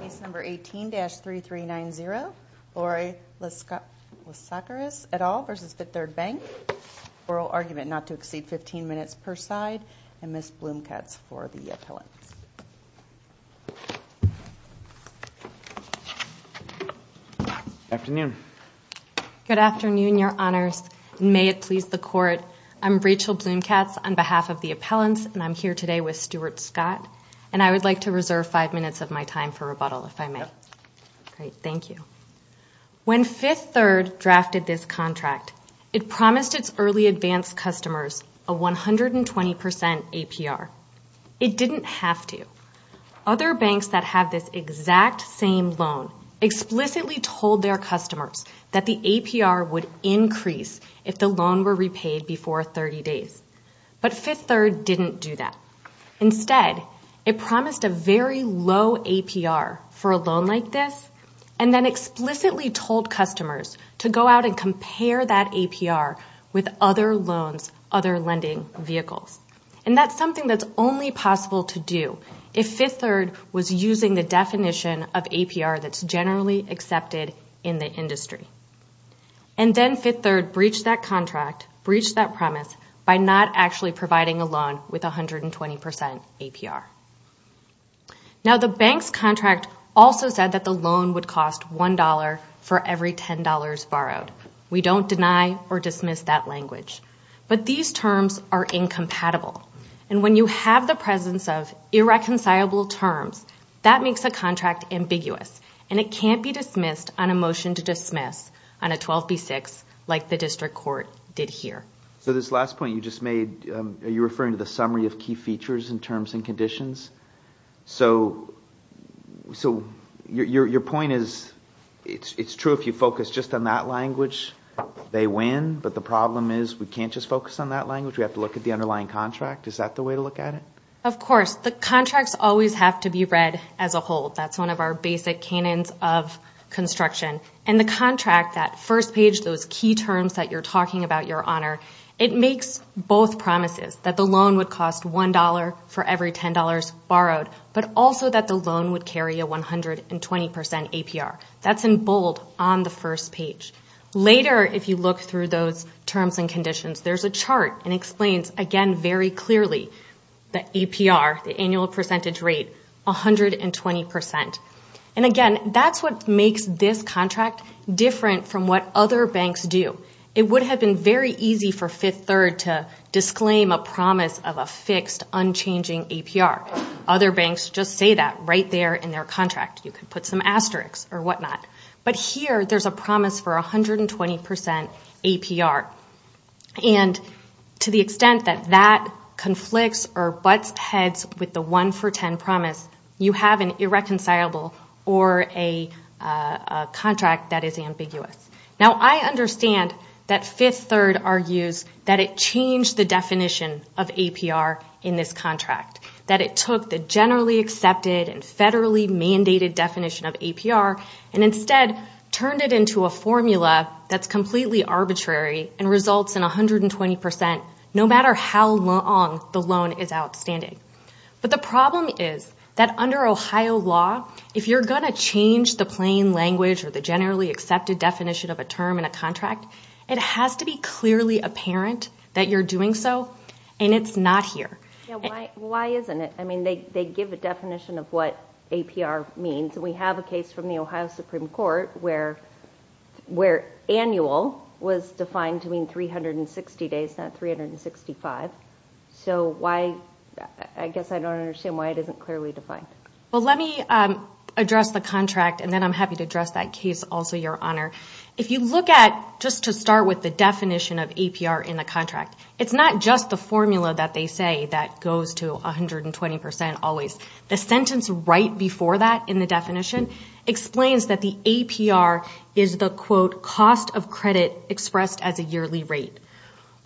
Case number 18-3390, Lori Laskaris et al. v. Fifth Third Bank. Oral argument not to exceed 15 minutes per side and Ms. Blumkatz for the appellant. Good afternoon your honors. May it please the court. I'm Rachel Blumkatz on behalf of the appellants and I'm here today with Stuart Scott and I would like to reserve five minutes of my time for rebuttal if I may. Thank you. When Fifth Third drafted this contract it promised its early advanced customers a 120% APR. It didn't have to. Other banks that have this exact same loan explicitly told their customers that the APR would increase if the loan were APR for a loan like this and then explicitly told customers to go out and compare that APR with other loans, other lending vehicles. And that's something that's only possible to do if Fifth Third was using the definition of APR that's generally accepted in the industry. And then Fifth Third breached that contract, breached that premise by not actually providing a loan with a 120% APR. Now the bank's contract also said that the loan would cost one dollar for every ten dollars borrowed. We don't deny or dismiss that language. But these terms are incompatible and when you have the presence of irreconcilable terms that makes a contract ambiguous and it can't be dismissed on a motion to dismiss on a 12b6 like the district court did here. So this last point you referring to the summary of key features in terms and conditions. So your point is it's true if you focus just on that language they win but the problem is we can't just focus on that language. We have to look at the underlying contract. Is that the way to look at it? Of course. The contracts always have to be read as a whole. That's one of our basic canons of construction. And the contract, that first page, those key terms that you're talking about, Your loan would cost one dollar for every ten dollars borrowed but also that the loan would carry a 120% APR. That's in bold on the first page. Later if you look through those terms and conditions there's a chart and explains again very clearly the APR, the annual percentage rate, 120%. And again that's what makes this contract different from what other banks do. It would have been very easy for you to put a promise of a fixed unchanging APR. Other banks just say that right there in their contract. You can put some asterisks or whatnot. But here there's a promise for a 120% APR. And to the extent that that conflicts or butts heads with the one for ten promise, you have an irreconcilable or a contract that is ambiguous. Now I understand that Fifth Third argues that it changed the definition of APR in this contract. That it took the generally accepted and federally mandated definition of APR and instead turned it into a formula that's completely arbitrary and results in 120% no matter how long the loan is outstanding. But the problem is that under Ohio law if you're going to change the plain language or the generally accepted definition of a term in a contract, it's not here. Why isn't it? I mean they give a definition of what APR means. We have a case from the Ohio Supreme Court where where annual was defined to mean 360 days, not 365. So why, I guess I don't understand why it isn't clearly defined. Well let me address the contract and then I'm happy to address that case also Your Honor. If you look at, just to start with the definition of APR in the formula that they say that goes to 120% always, the sentence right before that in the definition explains that the APR is the quote cost of credit expressed as a yearly rate.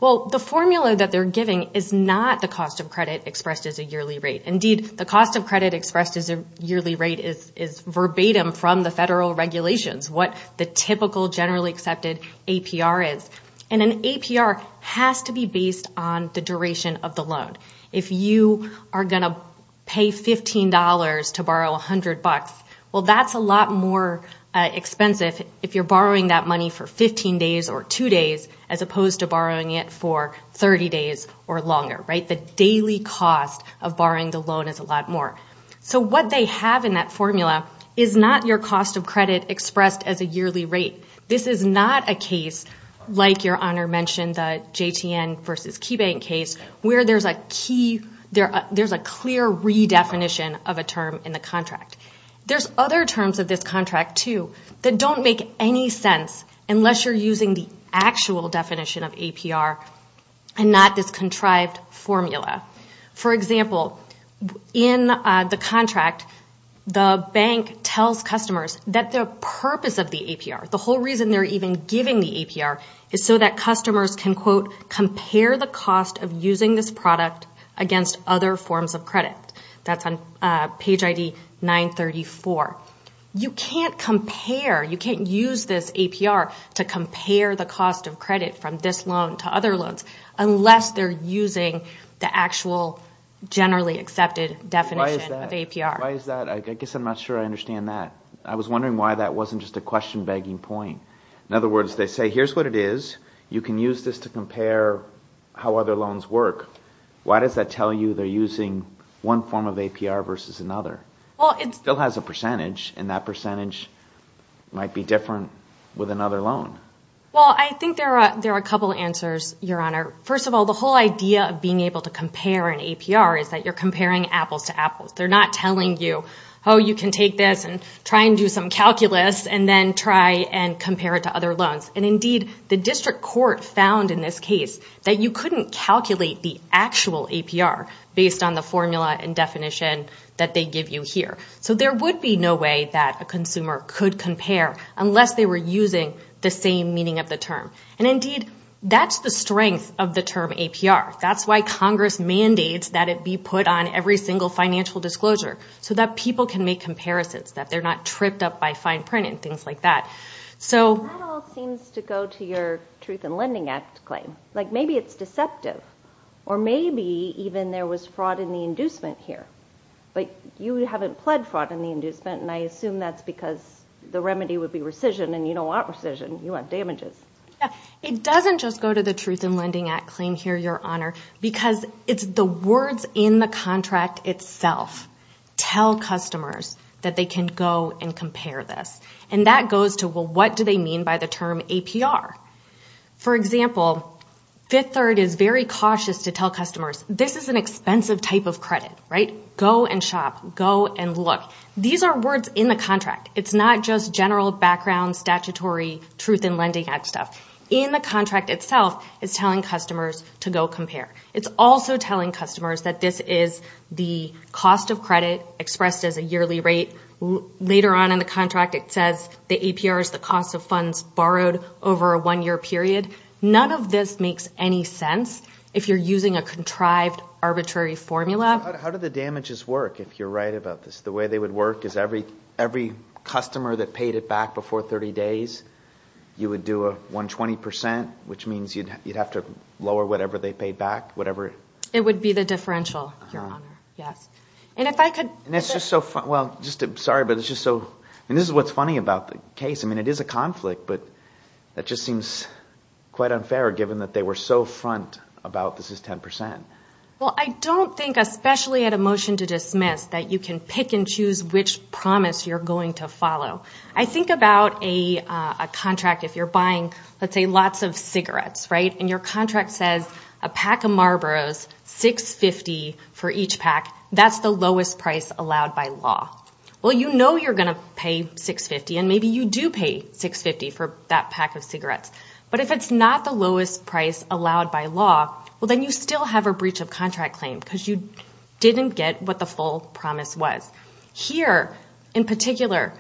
Well the formula that they're giving is not the cost of credit expressed as a yearly rate. Indeed the cost of credit expressed as a yearly rate is verbatim from the federal regulations. What the typical generally accepted APR is. And an APR has to be based on the duration of the loan. If you are going to pay $15 to borrow $100, well that's a lot more expensive if you're borrowing that money for 15 days or two days as opposed to borrowing it for 30 days or longer, right? The daily cost of borrowing the loan is a lot more. So what they have in that formula is not your cost of credit expressed as a yearly rate. This is not a case like Your Honor mentioned, the JTN versus KeyBank case, where there's a clear redefinition of a term in the contract. There's other terms of this contract too that don't make any sense unless you're using the actual definition of APR and not this contrived formula. For example, in the contract the bank tells customers that the purpose of the APR, the whole reason they're even giving the APR, is so that customers can, quote, compare the cost of using this product against other forms of credit. That's on page ID 934. You can't compare, you can't use this APR to compare the cost of credit from this generally accepted definition of APR. Why is that? I guess I'm not sure I understand that. I was wondering why that wasn't just a question begging point. In other words, they say here's what it is, you can use this to compare how other loans work. Why does that tell you they're using one form of APR versus another? Well, it still has a percentage and that percentage might be different with another loan. Well, I think there are a couple answers, Your Honor. First of all, the APR is that you're comparing apples to apples. They're not telling you, oh, you can take this and try and do some calculus and then try and compare it to other loans. And indeed, the district court found in this case that you couldn't calculate the actual APR based on the formula and definition that they give you here. So there would be no way that a consumer could compare unless they were using the same meaning of the term. And indeed, that's the strength of the term APR. That's why Congress mandates that it be put on every single financial disclosure so that people can make comparisons, that they're not tripped up by fine print and things like that. That all seems to go to your Truth and Lending Act claim. Maybe it's deceptive or maybe even there was fraud in the inducement here. But you haven't pled fraud in the inducement and I assume that's because the remedy would be rescission and you don't want rescission, you want damages. It doesn't just go to the Truth and Lending Act claim here, Your Honor, because it's the words in the contract itself tell customers that they can go and compare this. And that goes to, well, what do they mean by the term APR? For example, Fifth Third is very cautious to tell customers, this is an expensive type of credit, right? Go and shop. Go and look. These are words in the contract. It's not just general background statutory Truth and Lending Act stuff. In the contract itself, it's telling customers to go compare. It's also telling customers that this is the cost of credit expressed as a yearly rate. Later on in the contract, it says the APR is the cost of funds borrowed over a one-year period. None of this makes any sense if you're using a contrived arbitrary formula. How do the damages work, if you're right about this? The way they would work is every customer that paid it back before 30 days, you would do a 120%, which means you'd have to lower whatever they paid back, whatever... It would be the differential, Your Honor. Yes. And if I could... And it's just so... Well, just... Sorry, but it's just so... And this is what's funny about the case. I mean, it is a conflict, but that just seems quite unfair, given that they were so front about this is 10%. Well, I don't think, especially at a motion to dismiss, that you can pick and choose which promise you're going to follow. I think about a contract, if you're buying, let's say, lots of cigarettes, right? And your contract says a pack of Marlboros, $6.50 for each pack. That's the lowest price allowed by law. Well, you know you're going to pay $6.50, and maybe you do pay $6.50 for that pack of cigarettes. But if it's not the lowest price allowed by law, well, then you still have a breach of contract claim, because you didn't get what the full promise was. Here, in particular,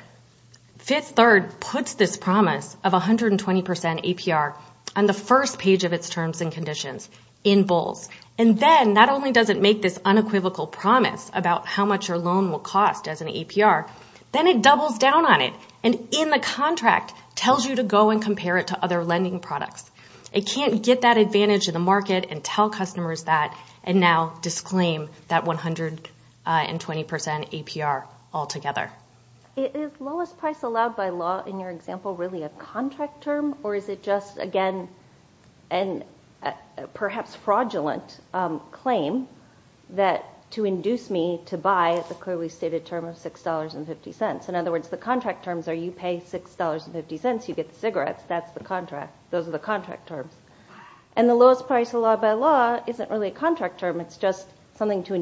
Fifth Third puts this promise of 120% APR on the first page of its terms and conditions, in bowls. And then, not only does it make this unequivocal promise about how much your loan will cost as an APR, then it doubles down on it, and in the contract, tells you to go and compare it to other lending products. It can't get that advantage in the market and tell you that it's a breach in 20% APR altogether. Is lowest price allowed by law, in your example, really a contract term, or is it just, again, a perhaps fraudulent claim that to induce me to buy the clearly stated term of $6.50? In other words, the contract terms are you pay $6.50, you get cigarettes, that's the contract. Those are the contract terms. And the lowest price allowed by law isn't really a contract term, it's just something to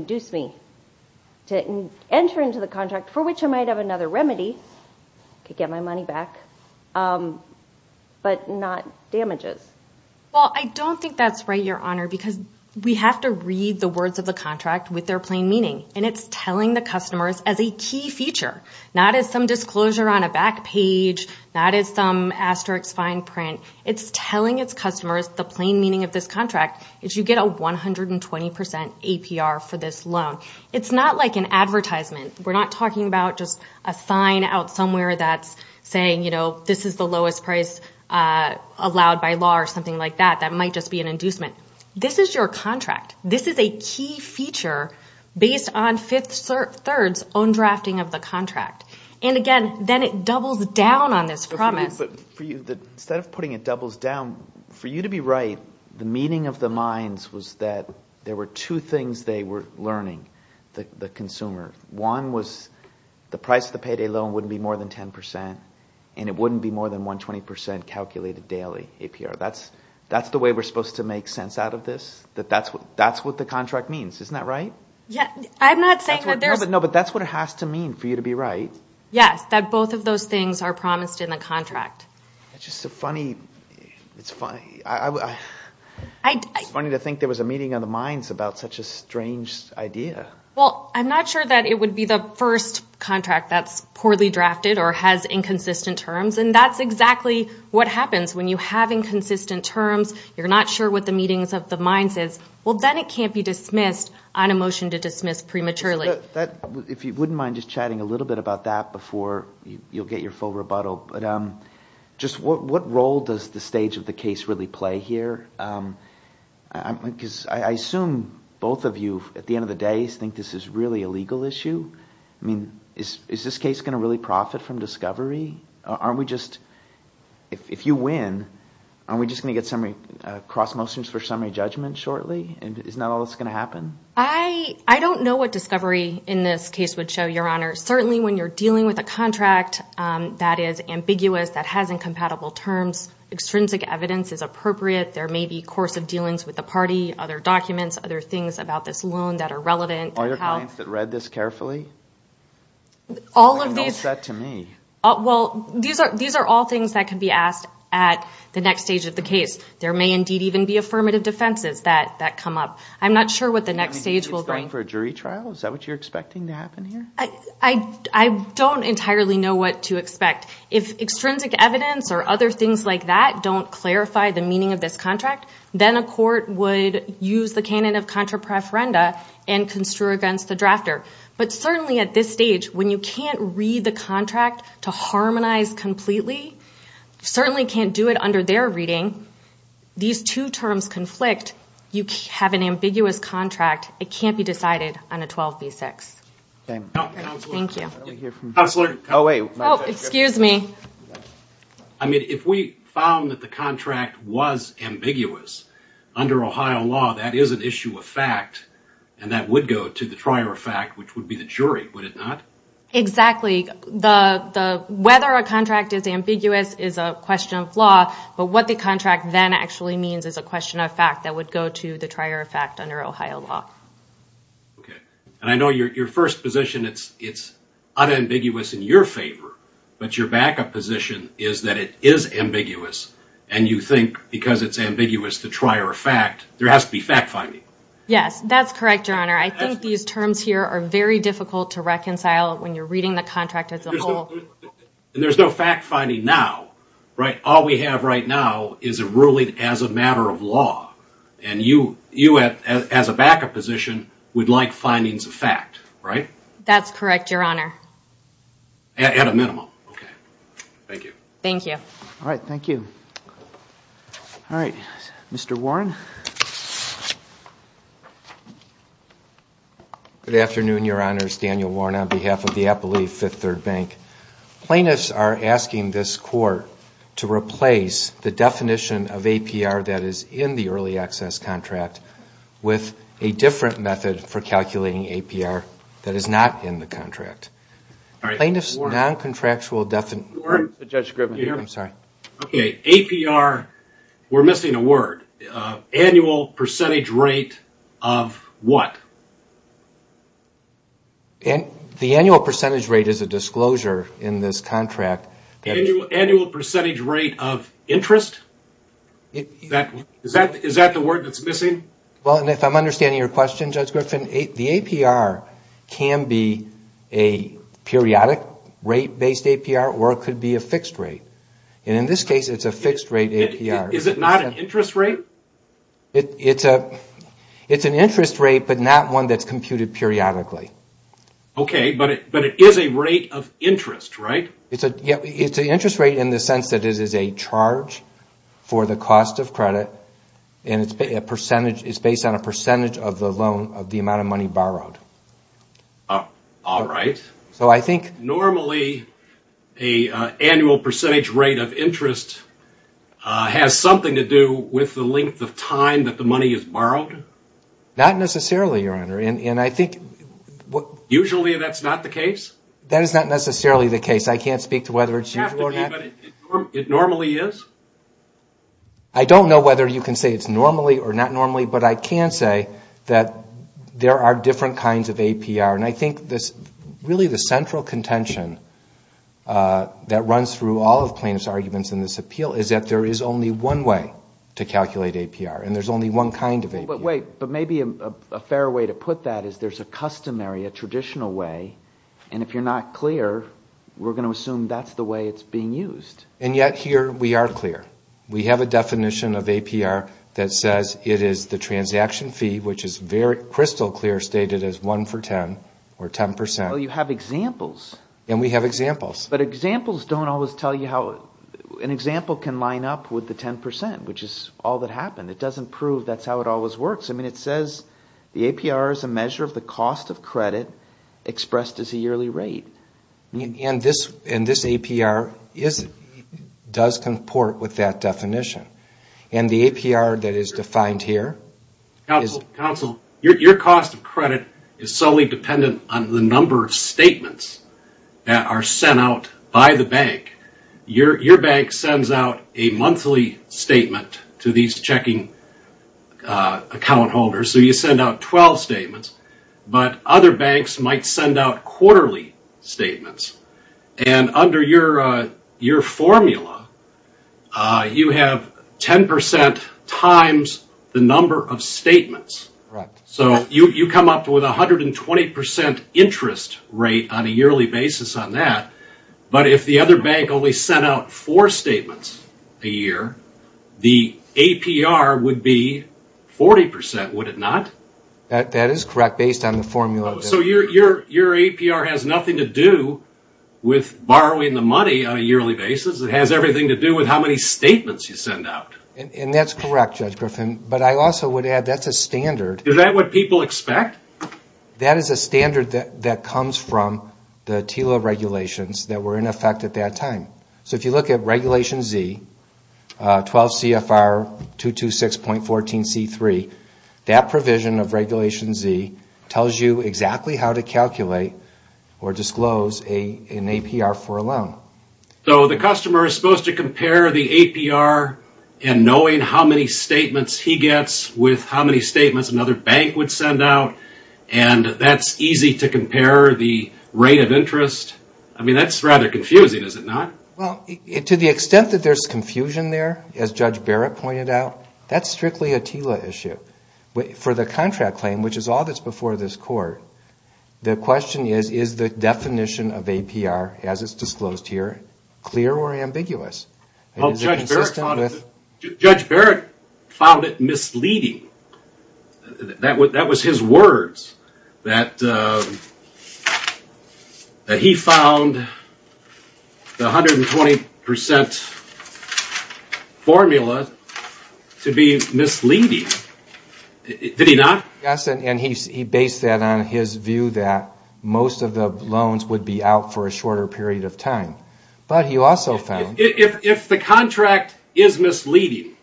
enter into the contract, for which I might have another remedy to get my money back, but not damages. Well, I don't think that's right, Your Honor, because we have to read the words of the contract with their plain meaning, and it's telling the customers as a key feature, not as some disclosure on a back page, not as some asterisk fine print. It's telling its customers the plain meaning of this contract is you get a 120% APR for this loan. It's not like an advertisement. We're not talking about just a sign out somewhere that's saying, you know, this is the lowest price allowed by law, or something like that, that might just be an inducement. This is your contract. This is a key feature based on Fifth Third's own drafting of the contract. And again, then it doubles down on this promise. But for you, instead of putting it doubles down, for you to be right, the meaning of the mines was that there were two things they were learning, the consumer. One was the price of the payday loan wouldn't be more than 10%, and it wouldn't be more than 120% calculated daily APR. That's the way we're supposed to make sense out of this. That's what the contract means, isn't that right? Yeah, I'm not saying that there's... No, but that's what it has to mean for you to be right. Yes, that both of those things are promised in the contract. It's funny to think there was a meeting of the mines about such a strange idea. Well, I'm not sure that it would be the first contract that's poorly drafted or has inconsistent terms, and that's exactly what happens when you have inconsistent terms, you're not sure what the meanings of the mines is. Well, then it can't be dismissed on a motion to dismiss prematurely. If you wouldn't mind just chatting a little bit about that before you'll get your full answer. I assume both of you, at the end of the day, think this is really a legal issue. I mean, is this case going to really profit from discovery? Aren't we just... If you win, aren't we just going to get cross motions for summary judgment shortly? Isn't that all that's going to happen? I don't know what discovery in this case would show, Your Honor. Certainly when you're dealing with a contract that is ambiguous, that has incompatible terms, extrinsic evidence is appropriate. There may be course of dealings with the party, other documents, other things about this loan that are relevant. Are there clients that read this carefully? All of these... It's all set to me. Well, these are all things that can be asked at the next stage of the case. There may indeed even be affirmative defenses that come up. I'm not sure what the next stage will bring. Are you going for a jury trial? Is that what you're expecting to happen here? I don't entirely know what to expect. If extrinsic evidence or other things like that don't clarify the meaning of this contract, then a court would use the canon of contra preferenda and construe against the drafter. But certainly at this stage, when you can't read the contract to harmonize completely, certainly can't do it under their reading, these two terms conflict. You have an ambiguous contract. It can't be decided on a 12 v. 6. I mean, if we found that the contract was ambiguous under Ohio law, that is an issue of fact and that would go to the trier of fact, which would be the jury, would it not? Exactly. Whether a contract is ambiguous is a question of law, but what the contract then actually means is a matter of law. I know your first position, it's unambiguous in your favor, but your backup position is that it is ambiguous and you think because it's ambiguous to trier of fact, there has to be fact-finding. Yes, that's correct, Your Honor. I think these terms here are very difficult to reconcile when you're reading the contract as a whole. There's no fact-finding now, right? All we have right now is a ruling as a matter of law and you as a backup position would like findings of fact, right? That's correct, Your Honor. At a minimum, okay. Thank you. All right, thank you. All right, Mr. Warren. Good afternoon, Your Honor. It's Daniel Warren on behalf of the Appalooh Fifth Third Bank. Plaintiffs are asking this court to replace the definition of APR that is in the early access contract with a different method for calculating APR that is not in the contract. Plaintiffs' non-contractual definition... Warren? I'm sorry. APR, we're missing a word. Annual percentage rate of what? The annual percentage rate is a disclosure in this case. Rate of interest? Is that the word that's missing? Well, if I'm understanding your question, Judge Griffin, the APR can be a periodic rate-based APR or it could be a fixed rate. In this case, it's a fixed rate APR. Is it not an interest rate? It's an interest rate, but not one that's computed periodically. Okay, but it is a rate of interest, right? It's an interest rate in the sense that it is a charge for the cost of credit and it's based on a percentage of the amount of money borrowed. All right. So I think... Normally, an annual percentage rate of interest has something to do with the length of time that the money is borrowed? Not necessarily, Your Honor, and I think... Usually, that's not the case? That is not necessarily the case. I can't speak to whether it's usually or not. It normally is? I don't know whether you can say it's normally or not normally, but I can say that there are different kinds of APR, and I think really the central contention that runs through all of plaintiff's arguments in this appeal is that there is only one way to calculate APR, and there's only one kind of APR. But wait, but maybe a fair way to put that is there's a customary, a traditional way, and if you're not clear, we're going to assume that's the way it's being used. And yet here, we are clear. We have a definition of APR that says it is the transaction fee, which is crystal clear stated as one for 10, or 10%. Well, you have examples. And we have examples. But examples don't always tell you how... An example can line up with the 10%, which is all that happened. It doesn't prove that's how it always works. I mean, it says the APR is a measure of the cost of credit expressed as a yearly rate. And this APR does comport with that definition. And the APR that is defined here... Counsel, your cost of credit is solely dependent on the number of statements that are sent out by the bank. Your bank sends out a monthly statement to these checking account holders. So you send out 12 statements. But other banks might send out quarterly statements. And under your formula, you have 10% times the number of statements. So you come up with a 120% interest rate on a yearly basis on that. But if the other bank only sent out four statements a year, the APR would be 40%, would it not? That is correct, based on the formula. So your APR has nothing to do with borrowing the money on a yearly basis. It has everything to do with how many statements you send out. And that's correct, Judge Griffin. But I also would add that's a standard. Is that what people expect? That is a standard that comes from the TILA regulations that were in effect at that time. So if you look at Regulation Z, 12 CFR 226.14C3, that provision of Regulation Z tells you exactly how to calculate or disclose an APR for a loan. So the customer is supposed to compare the APR and knowing how many statements he gets with how many statements another bank would send out, and that's easy to compare the rate of interest? I mean, that's rather confusing, is it not? To the extent that there's confusion there, as Judge Barrett pointed out, that's strictly a TILA issue. For the contract claim, which is all that's before this Court, the question is, is the definition of APR, as it's disclosed here, clear or ambiguous? Judge Barrett found it misleading. That was his words, that he found the 120% formula to be misleading. Did he not? Yes, and he based that on his view that most of the loans would be out for a shorter period of time. But he also found... If the contract is misleading,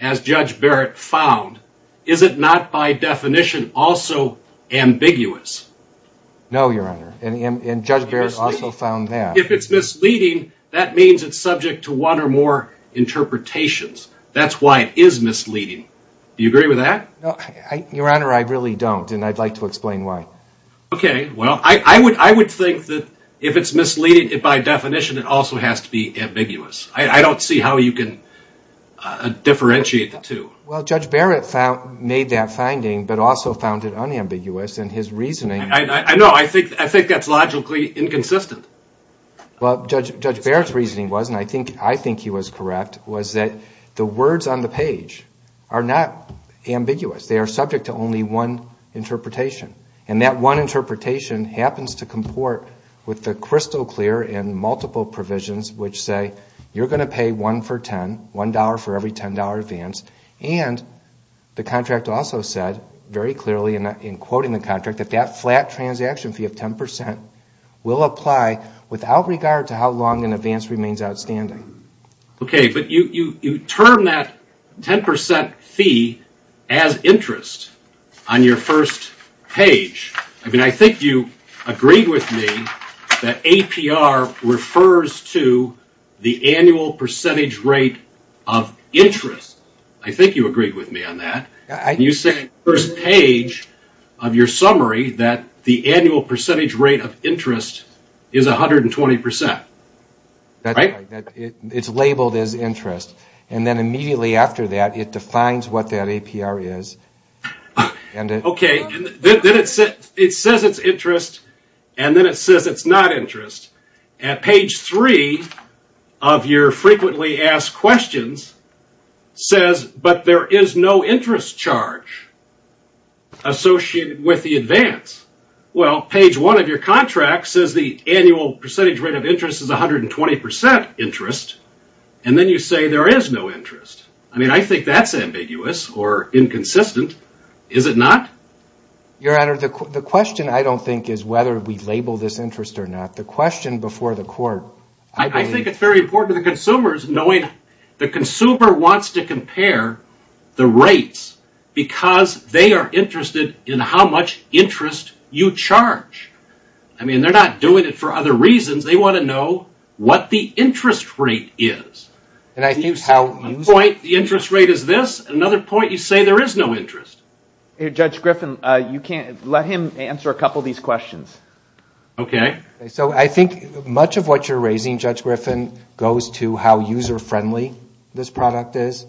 as Judge Barrett found, is it not by definition also ambiguous? No, Your Honor, and Judge Barrett also found that. If it's misleading, that means it's subject to one or more interpretations. That's why it is misleading. Do you agree with that? No, Your Honor, I really don't, and I'd like to explain why. Okay, well, I would think that if it's misleading, by definition, it also has to be ambiguous. I don't see how you can differentiate the two. Well, Judge Barrett made that finding, but also found it unambiguous, and his reasoning... I know, I think that's logically inconsistent. Well, Judge Barrett's reasoning was, and I think he was correct, was that the words on the page are not ambiguous. They are subject to only one interpretation, and that one interpretation happens to comport with the crystal clear and multiple provisions which say, you're going to pay one for $10, $1 for every $10 advance, and the contract also said very clearly in quoting the contract that that flat transaction fee of 10% will apply without regard to how long an advance remains outstanding. Okay, but you term that 10% fee as interest on your first page. I mean, I think you agreed with me that APR refers to the annual percentage rate of interest. I think you agreed with me on that. You said on the first page of your summary that the annual percentage rate of interest is 120%, right? It's labeled as interest, and then immediately after that, it defines what that APR is, and... Okay, then it says it's interest, and then it says it's not interest. At page three of your frequently asked questions says, but there is no interest charge associated with the advance. Well, page one of your contract says the annual percentage rate of interest is 120% interest, and then you say there is no interest. I mean, I think that's ambiguous or inconsistent. Is it not? Your Honor, the question I don't think is whether we label this interest or not. The question before the court... I think it's very important to the consumers knowing the consumer wants to compare the rates because they are interested in how much interest you charge. I mean, they're not doing it for other reasons. They want to know what the interest rate is. I think how... One point, the interest rate is this. Another point, you say there is no interest. Judge Griffin, let him answer a couple of these questions. I think much of what you're raising, Judge Griffin, goes to how user-friendly this product is.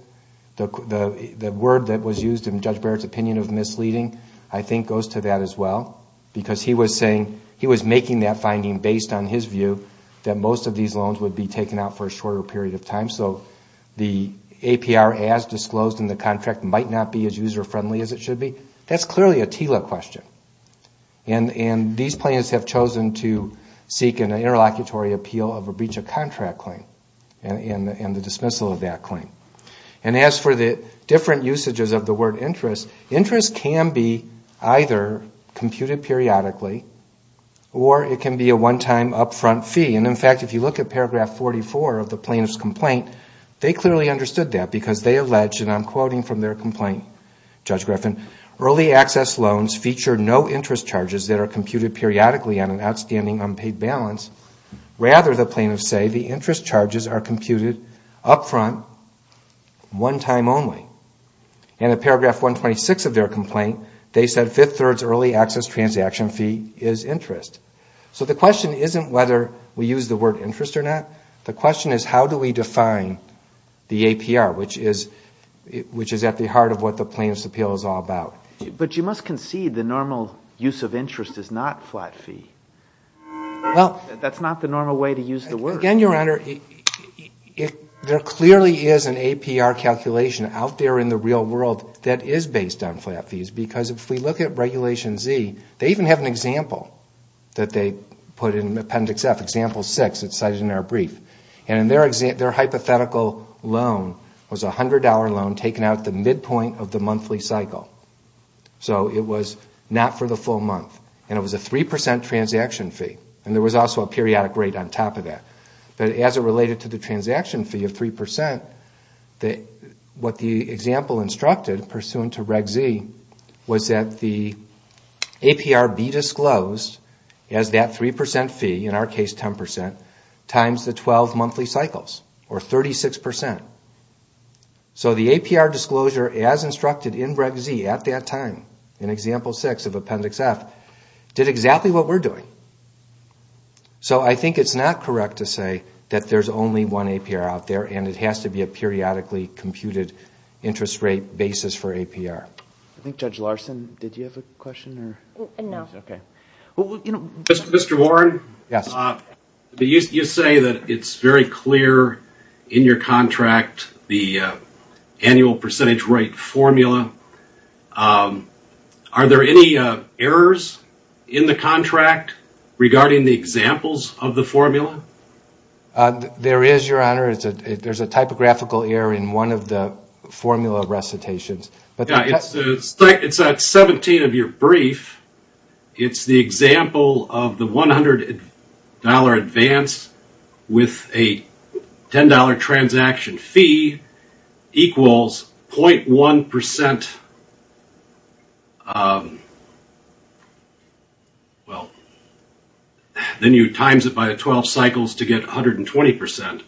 The word that was used in Judge Barrett's opinion of misleading, I think goes to that as well because he was making that finding based on his view that most of these loans would be taken out for a shorter period of time, so the APR as disclosed in the contract might not be as user-friendly as it should be. That's clearly a TILA question, and these plans have chosen to seek an interlocutory appeal of a breach of contract claim and the dismissal of that claim. As for the different usages of the word interest, interest can be either computed periodically or it can be a one-time upfront fee. In fact, if you look at paragraph 44 of the plaintiff's complaint, they clearly understood that because they alleged, and I'm quoting from their complaint, Judge Griffin, early access loans feature no interest charges that are computed periodically on an outstanding unpaid balance. Rather, the plaintiffs say the interest charges are one time only. In paragraph 126 of their complaint, they said fifth-thirds early access transaction fee is interest. So the question isn't whether we use the word interest or not. The question is how do we define the APR, which is at the heart of what the plaintiff's appeal is all about. But you must concede the normal use of interest is not flat fee. That's not the normal way to use the word. Again, Your Honor, there clearly is an APR calculation out there in the real world that is based on flat fees because if we look at Regulation Z, they even have an example that they put in Appendix F, Example 6. It's cited in their brief. Their hypothetical loan was a $100 loan taken out at the midpoint of the monthly cycle. So it was not for the full But as it related to the transaction fee of 3%, what the example instructed pursuant to Reg Z was that the APR be disclosed as that 3% fee, in our case 10%, times the 12 monthly cycles or 36%. So the APR disclosure as instructed in Reg Z at that time in Example 6 of Appendix F did exactly what we're doing. So I think it's not correct to say that there's only one APR out there and it has to be a periodically computed interest rate basis for APR. I think Judge Larson, did you have a question? Mr. Warren, you say that it's very clear in your contract the annual percentage rate formula. Are there any errors in the contract regarding the examples of the formula? There is, Your Honor. There's a typographical error in one of the formula recitations. It's at 17 of your brief. It's the example of the $100 advance with a $10 transaction fee equals 0.1%. Then you times it by the 12 cycles to get 120%.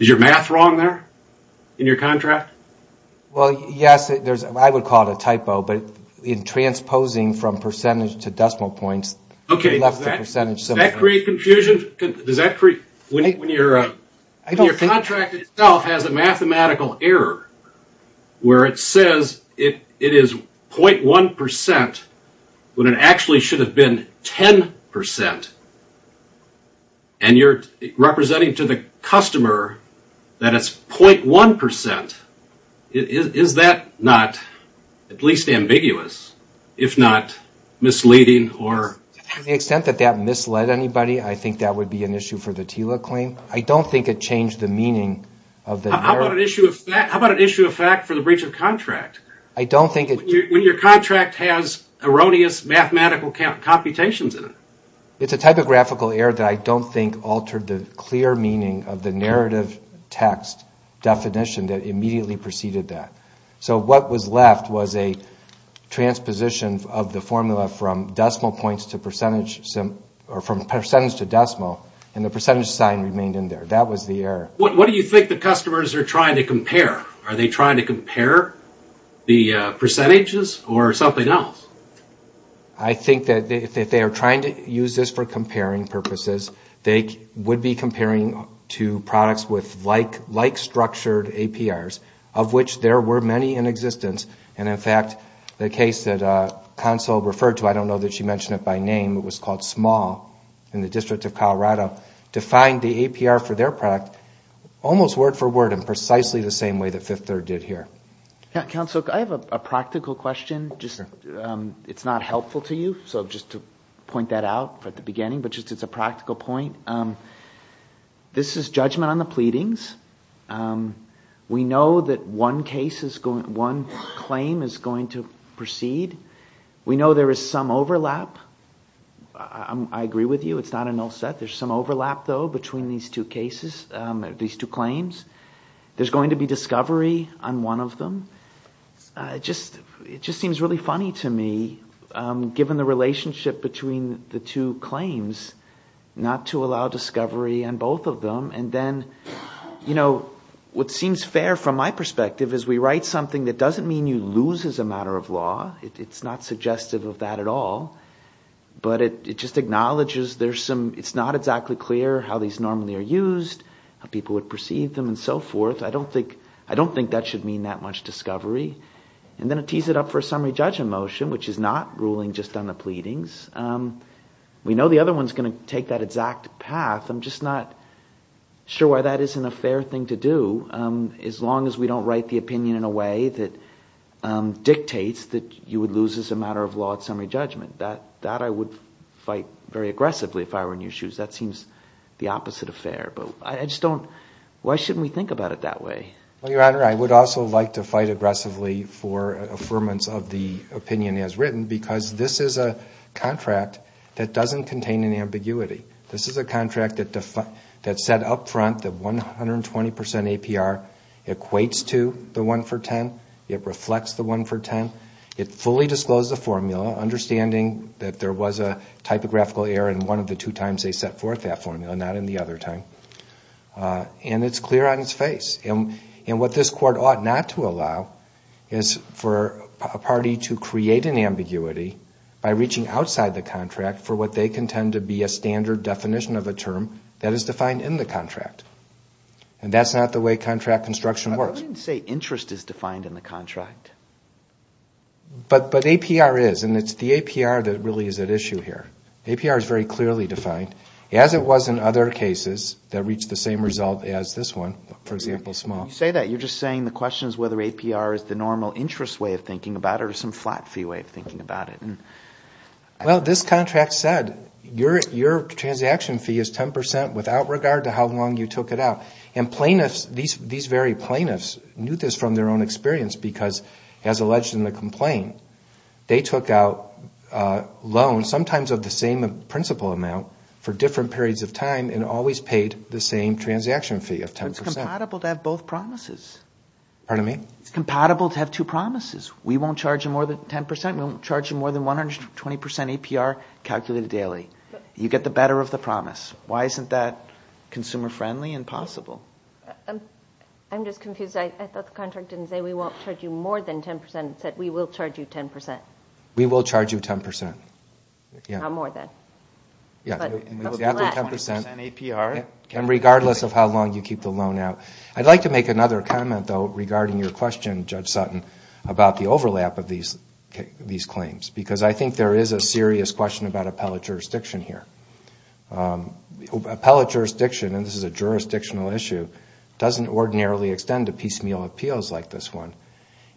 Is your math wrong there in your contract? Well, yes. I would call it a typo, but in transposing from percentage to decimal points, it left a percentage. Does that create confusion? When your contract itself has a mathematical error where it says it is 0.1% when it actually should have been 10% and you're representing to the customer that it's 0.1%, is that not at least ambiguous, if not misleading? To the extent that that misled anybody, I think that would be an issue for the TILA claim. I don't think it changed the meaning of the narrative. How about an issue of fact for the breach of contract? When your contract has erroneous mathematical computations in it. It's a typographical error that I don't think altered the clear meaning of the narrative text definition that immediately preceded that. So what was left was a transposition of the formula from percentage to decimal, and the percentage sign remained in there. That was the error. What do you think the customers are trying to compare? Are they trying to compare the percentages or something else? I think that if they are trying to use this for comparing purposes, they would be comparing to products with like-structured APRs, of which there were many in existence. In fact, the case that Counsel referred to, I don't know that she mentioned it by name, it was called Small in the District of Colorado, defined the APR for their product almost word for word and precisely the same way that Fifth Third did here. Counsel, I have a practical question. It's not helpful to you, so just to point that out at the beginning, but just as a practical point. This is judgment on the pleadings. We know that one claim is going to proceed. We know there is some overlap. I agree with you, it's not a null set. There's some overlap though between these two claims. There's going to be discovery on one of them. It just seems really funny to me, given the relationship between the two claims, not to allow discovery on both of them and then what seems fair from my perspective is we write something that doesn't mean you lose as a matter of law. It's not suggestive of that at all, but it just acknowledges it's not exactly clear how these normally are used, how people would perceive them and so forth. I don't think that should mean that much discovery. I'm going to tease it up for a summary judgment motion, which is not ruling just on the pleadings. We know the other one is going to take that exact path. I'm just not sure why that isn't a fair thing to do as long as we don't write the opinion in a way that dictates that you would lose as a matter of law at summary judgment. That I would fight very aggressively if I were in your shoes. That seems the opposite of fair, but why shouldn't we think about it that way? Your Honor, I would also like to fight aggressively for affirmance of the opinion as written because this is a contract that doesn't contain an ambiguity. This is a contract that set up front that 120% APR equates to the 1 for 10. It reflects the 1 for 10. It fully disclosed the formula, understanding that there was a typographical error in one of the two times they set forth that formula, not in the other time. It's clear on its face. What this Court ought not to allow is for a party to create an ambiguity by reaching outside the contract for what they contend to be a standard definition of a term that is defined in the contract. That's not the way contract construction works. I didn't say interest is defined in the contract. But APR is, and it's the APR that really is at issue here. APR is very clearly defined, as it was in other cases that reached the same result as this one, for example, small. You say that, you're just saying the question is whether APR is the normal interest way of thinking about it or some flat fee way of thinking about it. Well, this contract said your transaction fee is 10% without regard to how long you as alleged in the complaint, they took out loans sometimes of the same principal amount for different periods of time and always paid the same transaction fee of 10%. But it's compatible to have both promises. Pardon me? It's compatible to have two promises. We won't charge you more than 10%. We won't charge you more than 120% APR calculated daily. You get the better of the promise. Why isn't that consumer friendly and possible? I'm just confused. I thought the contract didn't say we won't charge you more than 10%. It said we will charge you 10%. We will charge you 10%. Not more than. And regardless of how long you keep the loan out. I'd like to make another comment, though, regarding your question, Judge Sutton, about the overlap of these claims. Because I think there is a serious question about appellate jurisdiction here. Appellate jurisdiction, and this is a jurisdictional issue, doesn't ordinarily extend to piecemeal appeals like this one.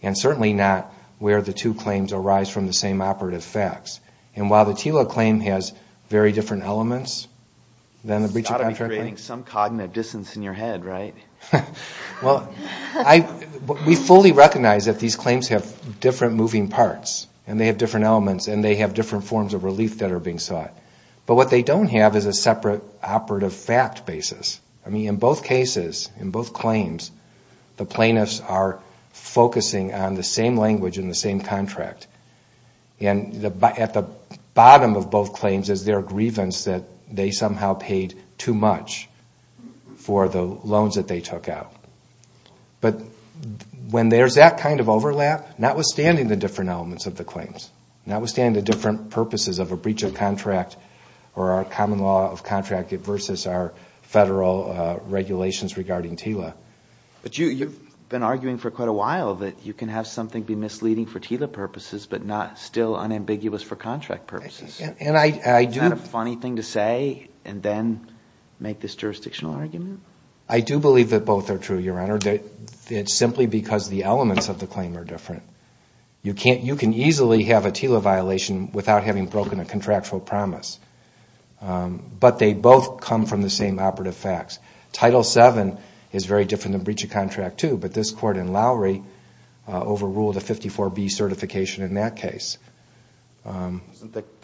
And certainly not where the two claims arise from the same operative facts. And while the TILA claim has very different elements than the breach of contract claim. It's got to be creating some cognitive distance in your head, right? Well, we fully recognize that these claims have different moving parts. And they have different elements. And they have different forms of relief that are being sought. But what they don't have is a separate operative fact basis. I mean, in both cases, in both claims, the plaintiffs are focusing on the same language and the same contract. And at the bottom of both claims is their grievance that they somehow paid too much for the loans that they took out. But when there's that kind of overlap, notwithstanding the different elements of the claims, notwithstanding the different purposes of a breach of contract or our common law of contract versus our federal regulations regarding TILA. But you've been arguing for quite a while that you can have something be misleading for TILA purposes but not still unambiguous for contract purposes. Isn't that a funny thing to say and then make this jurisdictional argument? I do believe that both are true, Your Honor. It's simply because the elements of the claim are different. You can easily have a TILA violation without having broken a contractual promise. But they both come from the same operative facts. Title VII is very different than breach of contract II, but this court in Lowry overruled a 54B certification in that case. Isn't that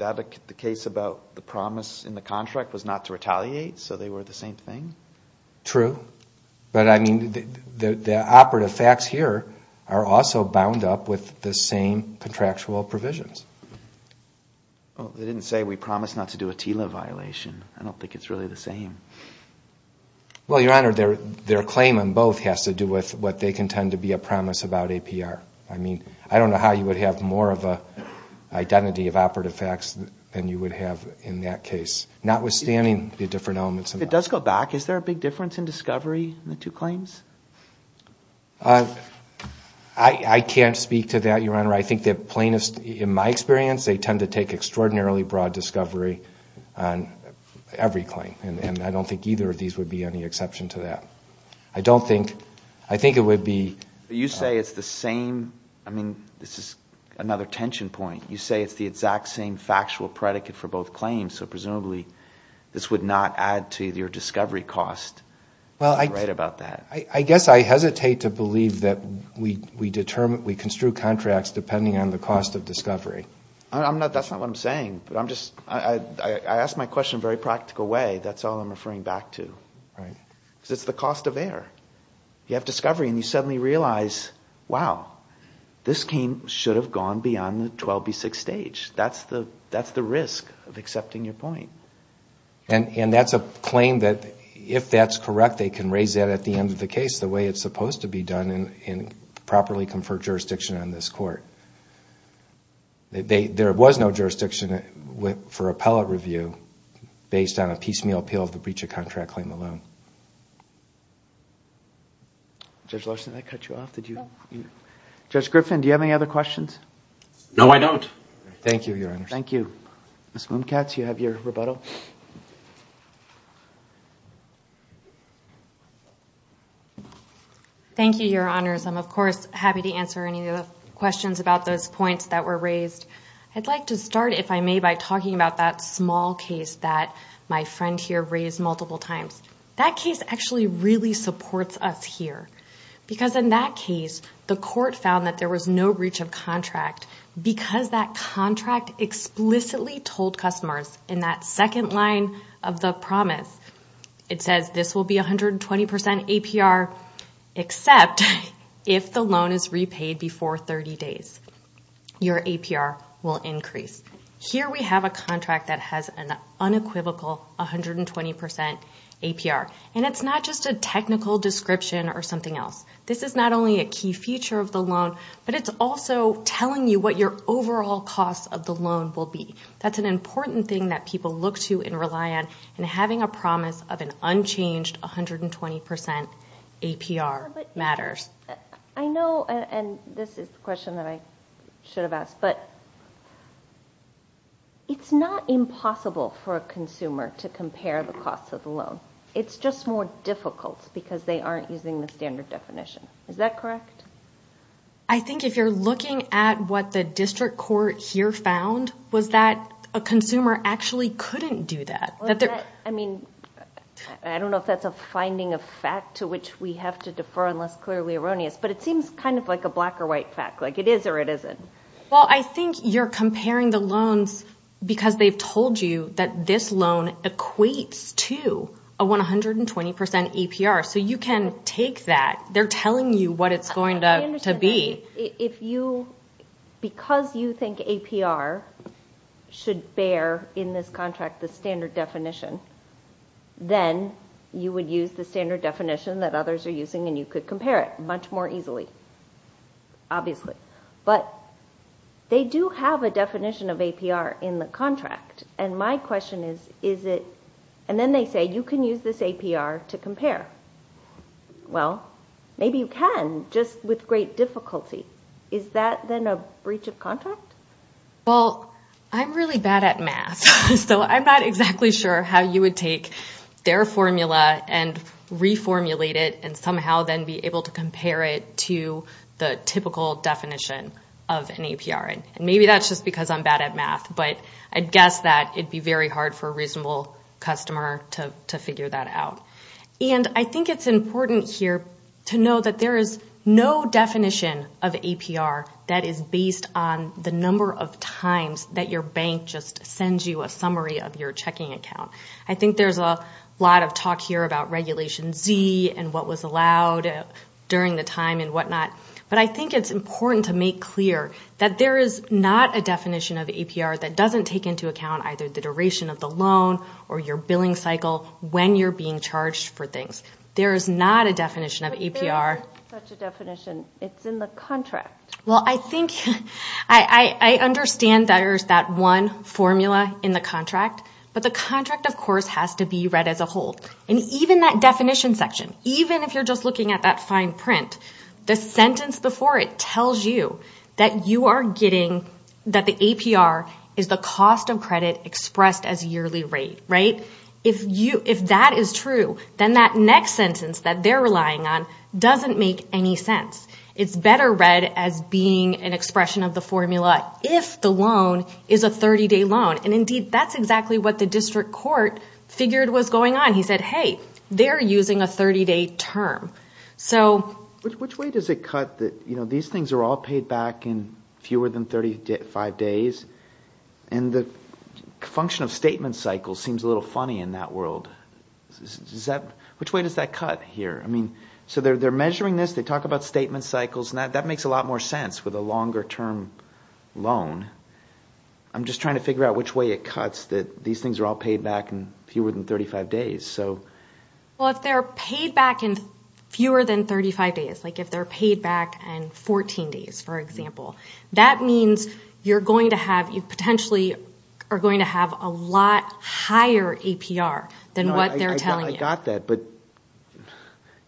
the case about the promise in the contract was not to retaliate, so they were the same thing? True. But, I mean, the operative facts here are also bound up with the same contractual provisions. They didn't say we promised not to do a TILA violation. I don't think it's really the same. Well, Your Honor, their claim on both has to do with what they contend to be a promise about APR. I mean, I don't know how you would have more of an identity of operative facts than you would have in that case, notwithstanding the different elements. It does go back. Is there a big difference in discovery in the two claims? I can't speak to that, Your Honor. I think that plaintiffs, in my experience, they tend to take extraordinarily broad discovery on every claim, and I don't think either of these would be any exception to that. I don't think, I think it would be. You say it's the same. I mean, this is another tension point. You say it's the exact same factual predicate for both claims, so presumably this would not add to your discovery cost. Well, I guess I hesitate to believe that we construe contracts depending on the cost of discovery. That's not what I'm saying. I asked my question in a very practical way. That's all I'm referring back to. Because it's the cost of error. You have discovery, and you suddenly realize, wow, this should have gone beyond the 12B6 stage. That's the risk of accepting your point. And that's a claim that, if that's correct, they can raise that at the end of the case the way it's supposed to be done in properly conferred jurisdiction on this court. There was no jurisdiction for appellate review based on a piecemeal appeal of the breach of contract claim alone. Judge Larson, did that cut you off? Judge Griffin, do you have any other questions? No, I don't. Thank you, Your Honors. Thank you. Ms. Mumcatz, you have your rebuttal. Thank you, Your Honors. I'm, of course, happy to answer any of the questions about those points that were raised. I'd like to start, if I may, by talking about that small case that my friend here raised multiple times. That case actually really supports us here. Because in that case, the court found that there was no breach of contract because that contract explicitly told customers in that second line of the promise, it says this will be 120% APR except if the loan is repaid before 30 days. Your APR will increase. Here we have a contract that has an unequivocal 120% APR. And it's not just a technical description or something else. This is not only a key feature of the loan, but it's also telling you what your overall cost of the loan will be. That's an important thing that people look to and rely on in having a promise of an unchanged 120% APR matters. I know, and this is a question that I should have asked, but it's not impossible for a consumer to compare the cost of the loan. It's just more difficult because they aren't using the standard definition. Is that correct? I think if you're looking at what the district court here found, was that a consumer actually couldn't do that. I mean, I don't know if that's a finding of fact to which we have to defer unless clearly erroneous, but it seems kind of like a black or white fact, like it is or it isn't. Well, I think you're comparing the loans because they've told you that this loan equates to a 120% APR, so you can take that. They're telling you what it's going to be. Because you think APR should bear in this contract the standard definition, then you would use the standard definition that others are using and you could compare it much more easily, obviously. But they do have a definition of APR in the contract, and my question is, is it? And then they say you can use this APR to compare. Well, maybe you can, just with great difficulty. Is that then a breach of contract? Well, I'm really bad at math, so I'm not exactly sure how you would take their formula and reformulate it and somehow then be able to compare it to the typical definition of an APR. Maybe that's just because I'm bad at math, but I'd guess that it'd be very hard for a reasonable customer to figure that out. And I think it's important here to know that there is no definition of APR that is based on the number of times that your bank just sends you a summary of your checking account. I think there's a lot of talk here about Regulation Z and what was allowed during the time and whatnot, but I think it's important to make clear that there is not a definition of APR that doesn't take into account either the duration of the loan or your billing cycle when you're being charged for things. There is not a definition of APR. But there is such a definition. It's in the contract. Well, I think I understand that there's that one formula in the contract, but the contract, of course, has to be read as a whole. And even that definition section, even if you're just looking at that fine print, the sentence before it tells you that the APR is the cost of credit expressed as yearly rate. If that is true, then that next sentence that they're relying on doesn't make any sense. It's better read as being an expression of the formula if the loan is a 30-day loan. And indeed, that's exactly what the district court figured was going on. He said, hey, they're using a 30-day term. Which way does it cut that these things are all paid back in fewer than 35 days? And the function of statement cycles seems a little funny in that world. Which way does that cut here? So they're measuring this, they talk about statement cycles, and that makes a lot more sense with a longer-term loan. I'm just trying to figure out which way it cuts that these things are all paid back in fewer than 35 days. Well, if they're paid back in fewer than 35 days, like if they're paid back in 14 days, for example, that means you potentially are going to have a lot higher APR than what they're telling you. I got that, but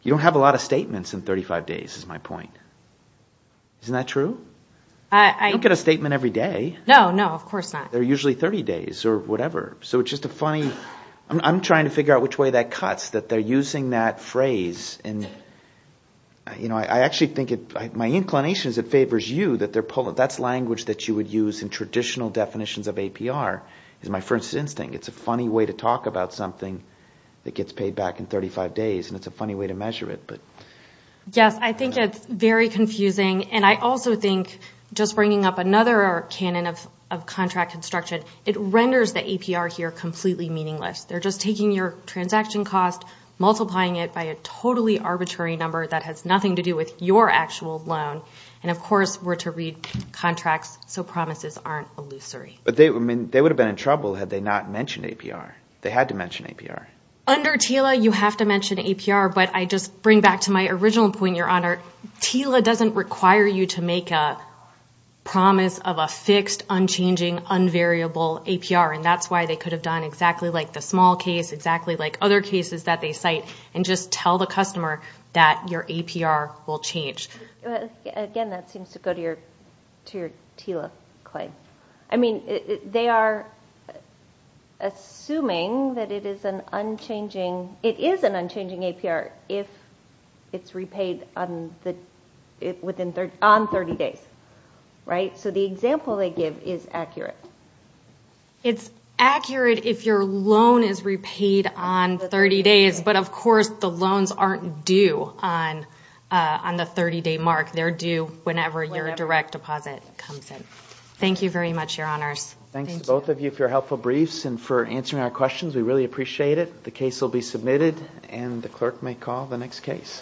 you don't have a lot of statements in 35 days is my point. Isn't that true? You don't get a statement every day. No, no, of course not. They're usually 30 days or whatever. I'm trying to figure out which way that cuts, that they're using that phrase. I actually think my inclination is it favors you. That's language that you would use in traditional definitions of APR. It's my first instinct. It's a funny way to talk about something that gets paid back in 35 days, and it's a funny way to measure it. Yes, I think it's very confusing, and I also think just bringing up another canon of contract construction, it renders the APR here completely meaningless. They're just taking your transaction cost, multiplying it by a totally arbitrary number that has nothing to do with your actual loan, and, of course, we're to read contracts so promises aren't illusory. But they would have been in trouble had they not mentioned APR. They had to mention APR. Under TILA, you have to mention APR, but I just bring back to my original point, Your Honor. TILA doesn't require you to make a promise of a fixed, unchanging, unvariable APR, and that's why they could have done exactly like the small case, exactly like other cases that they cite, and just tell the customer that your APR will change. Again, that seems to go to your TILA claim. I mean, they are assuming that it is an unchanging APR if it's repaid on 30 days, right? So the example they give is accurate. It's accurate if your loan is repaid on 30 days, but, of course, the loans aren't due on the 30-day mark. They're due whenever your direct deposit comes in. Thank you very much, Your Honors. Thanks to both of you for your helpful briefs and for answering our questions. We really appreciate it. The case will be submitted, and the clerk may call the next case.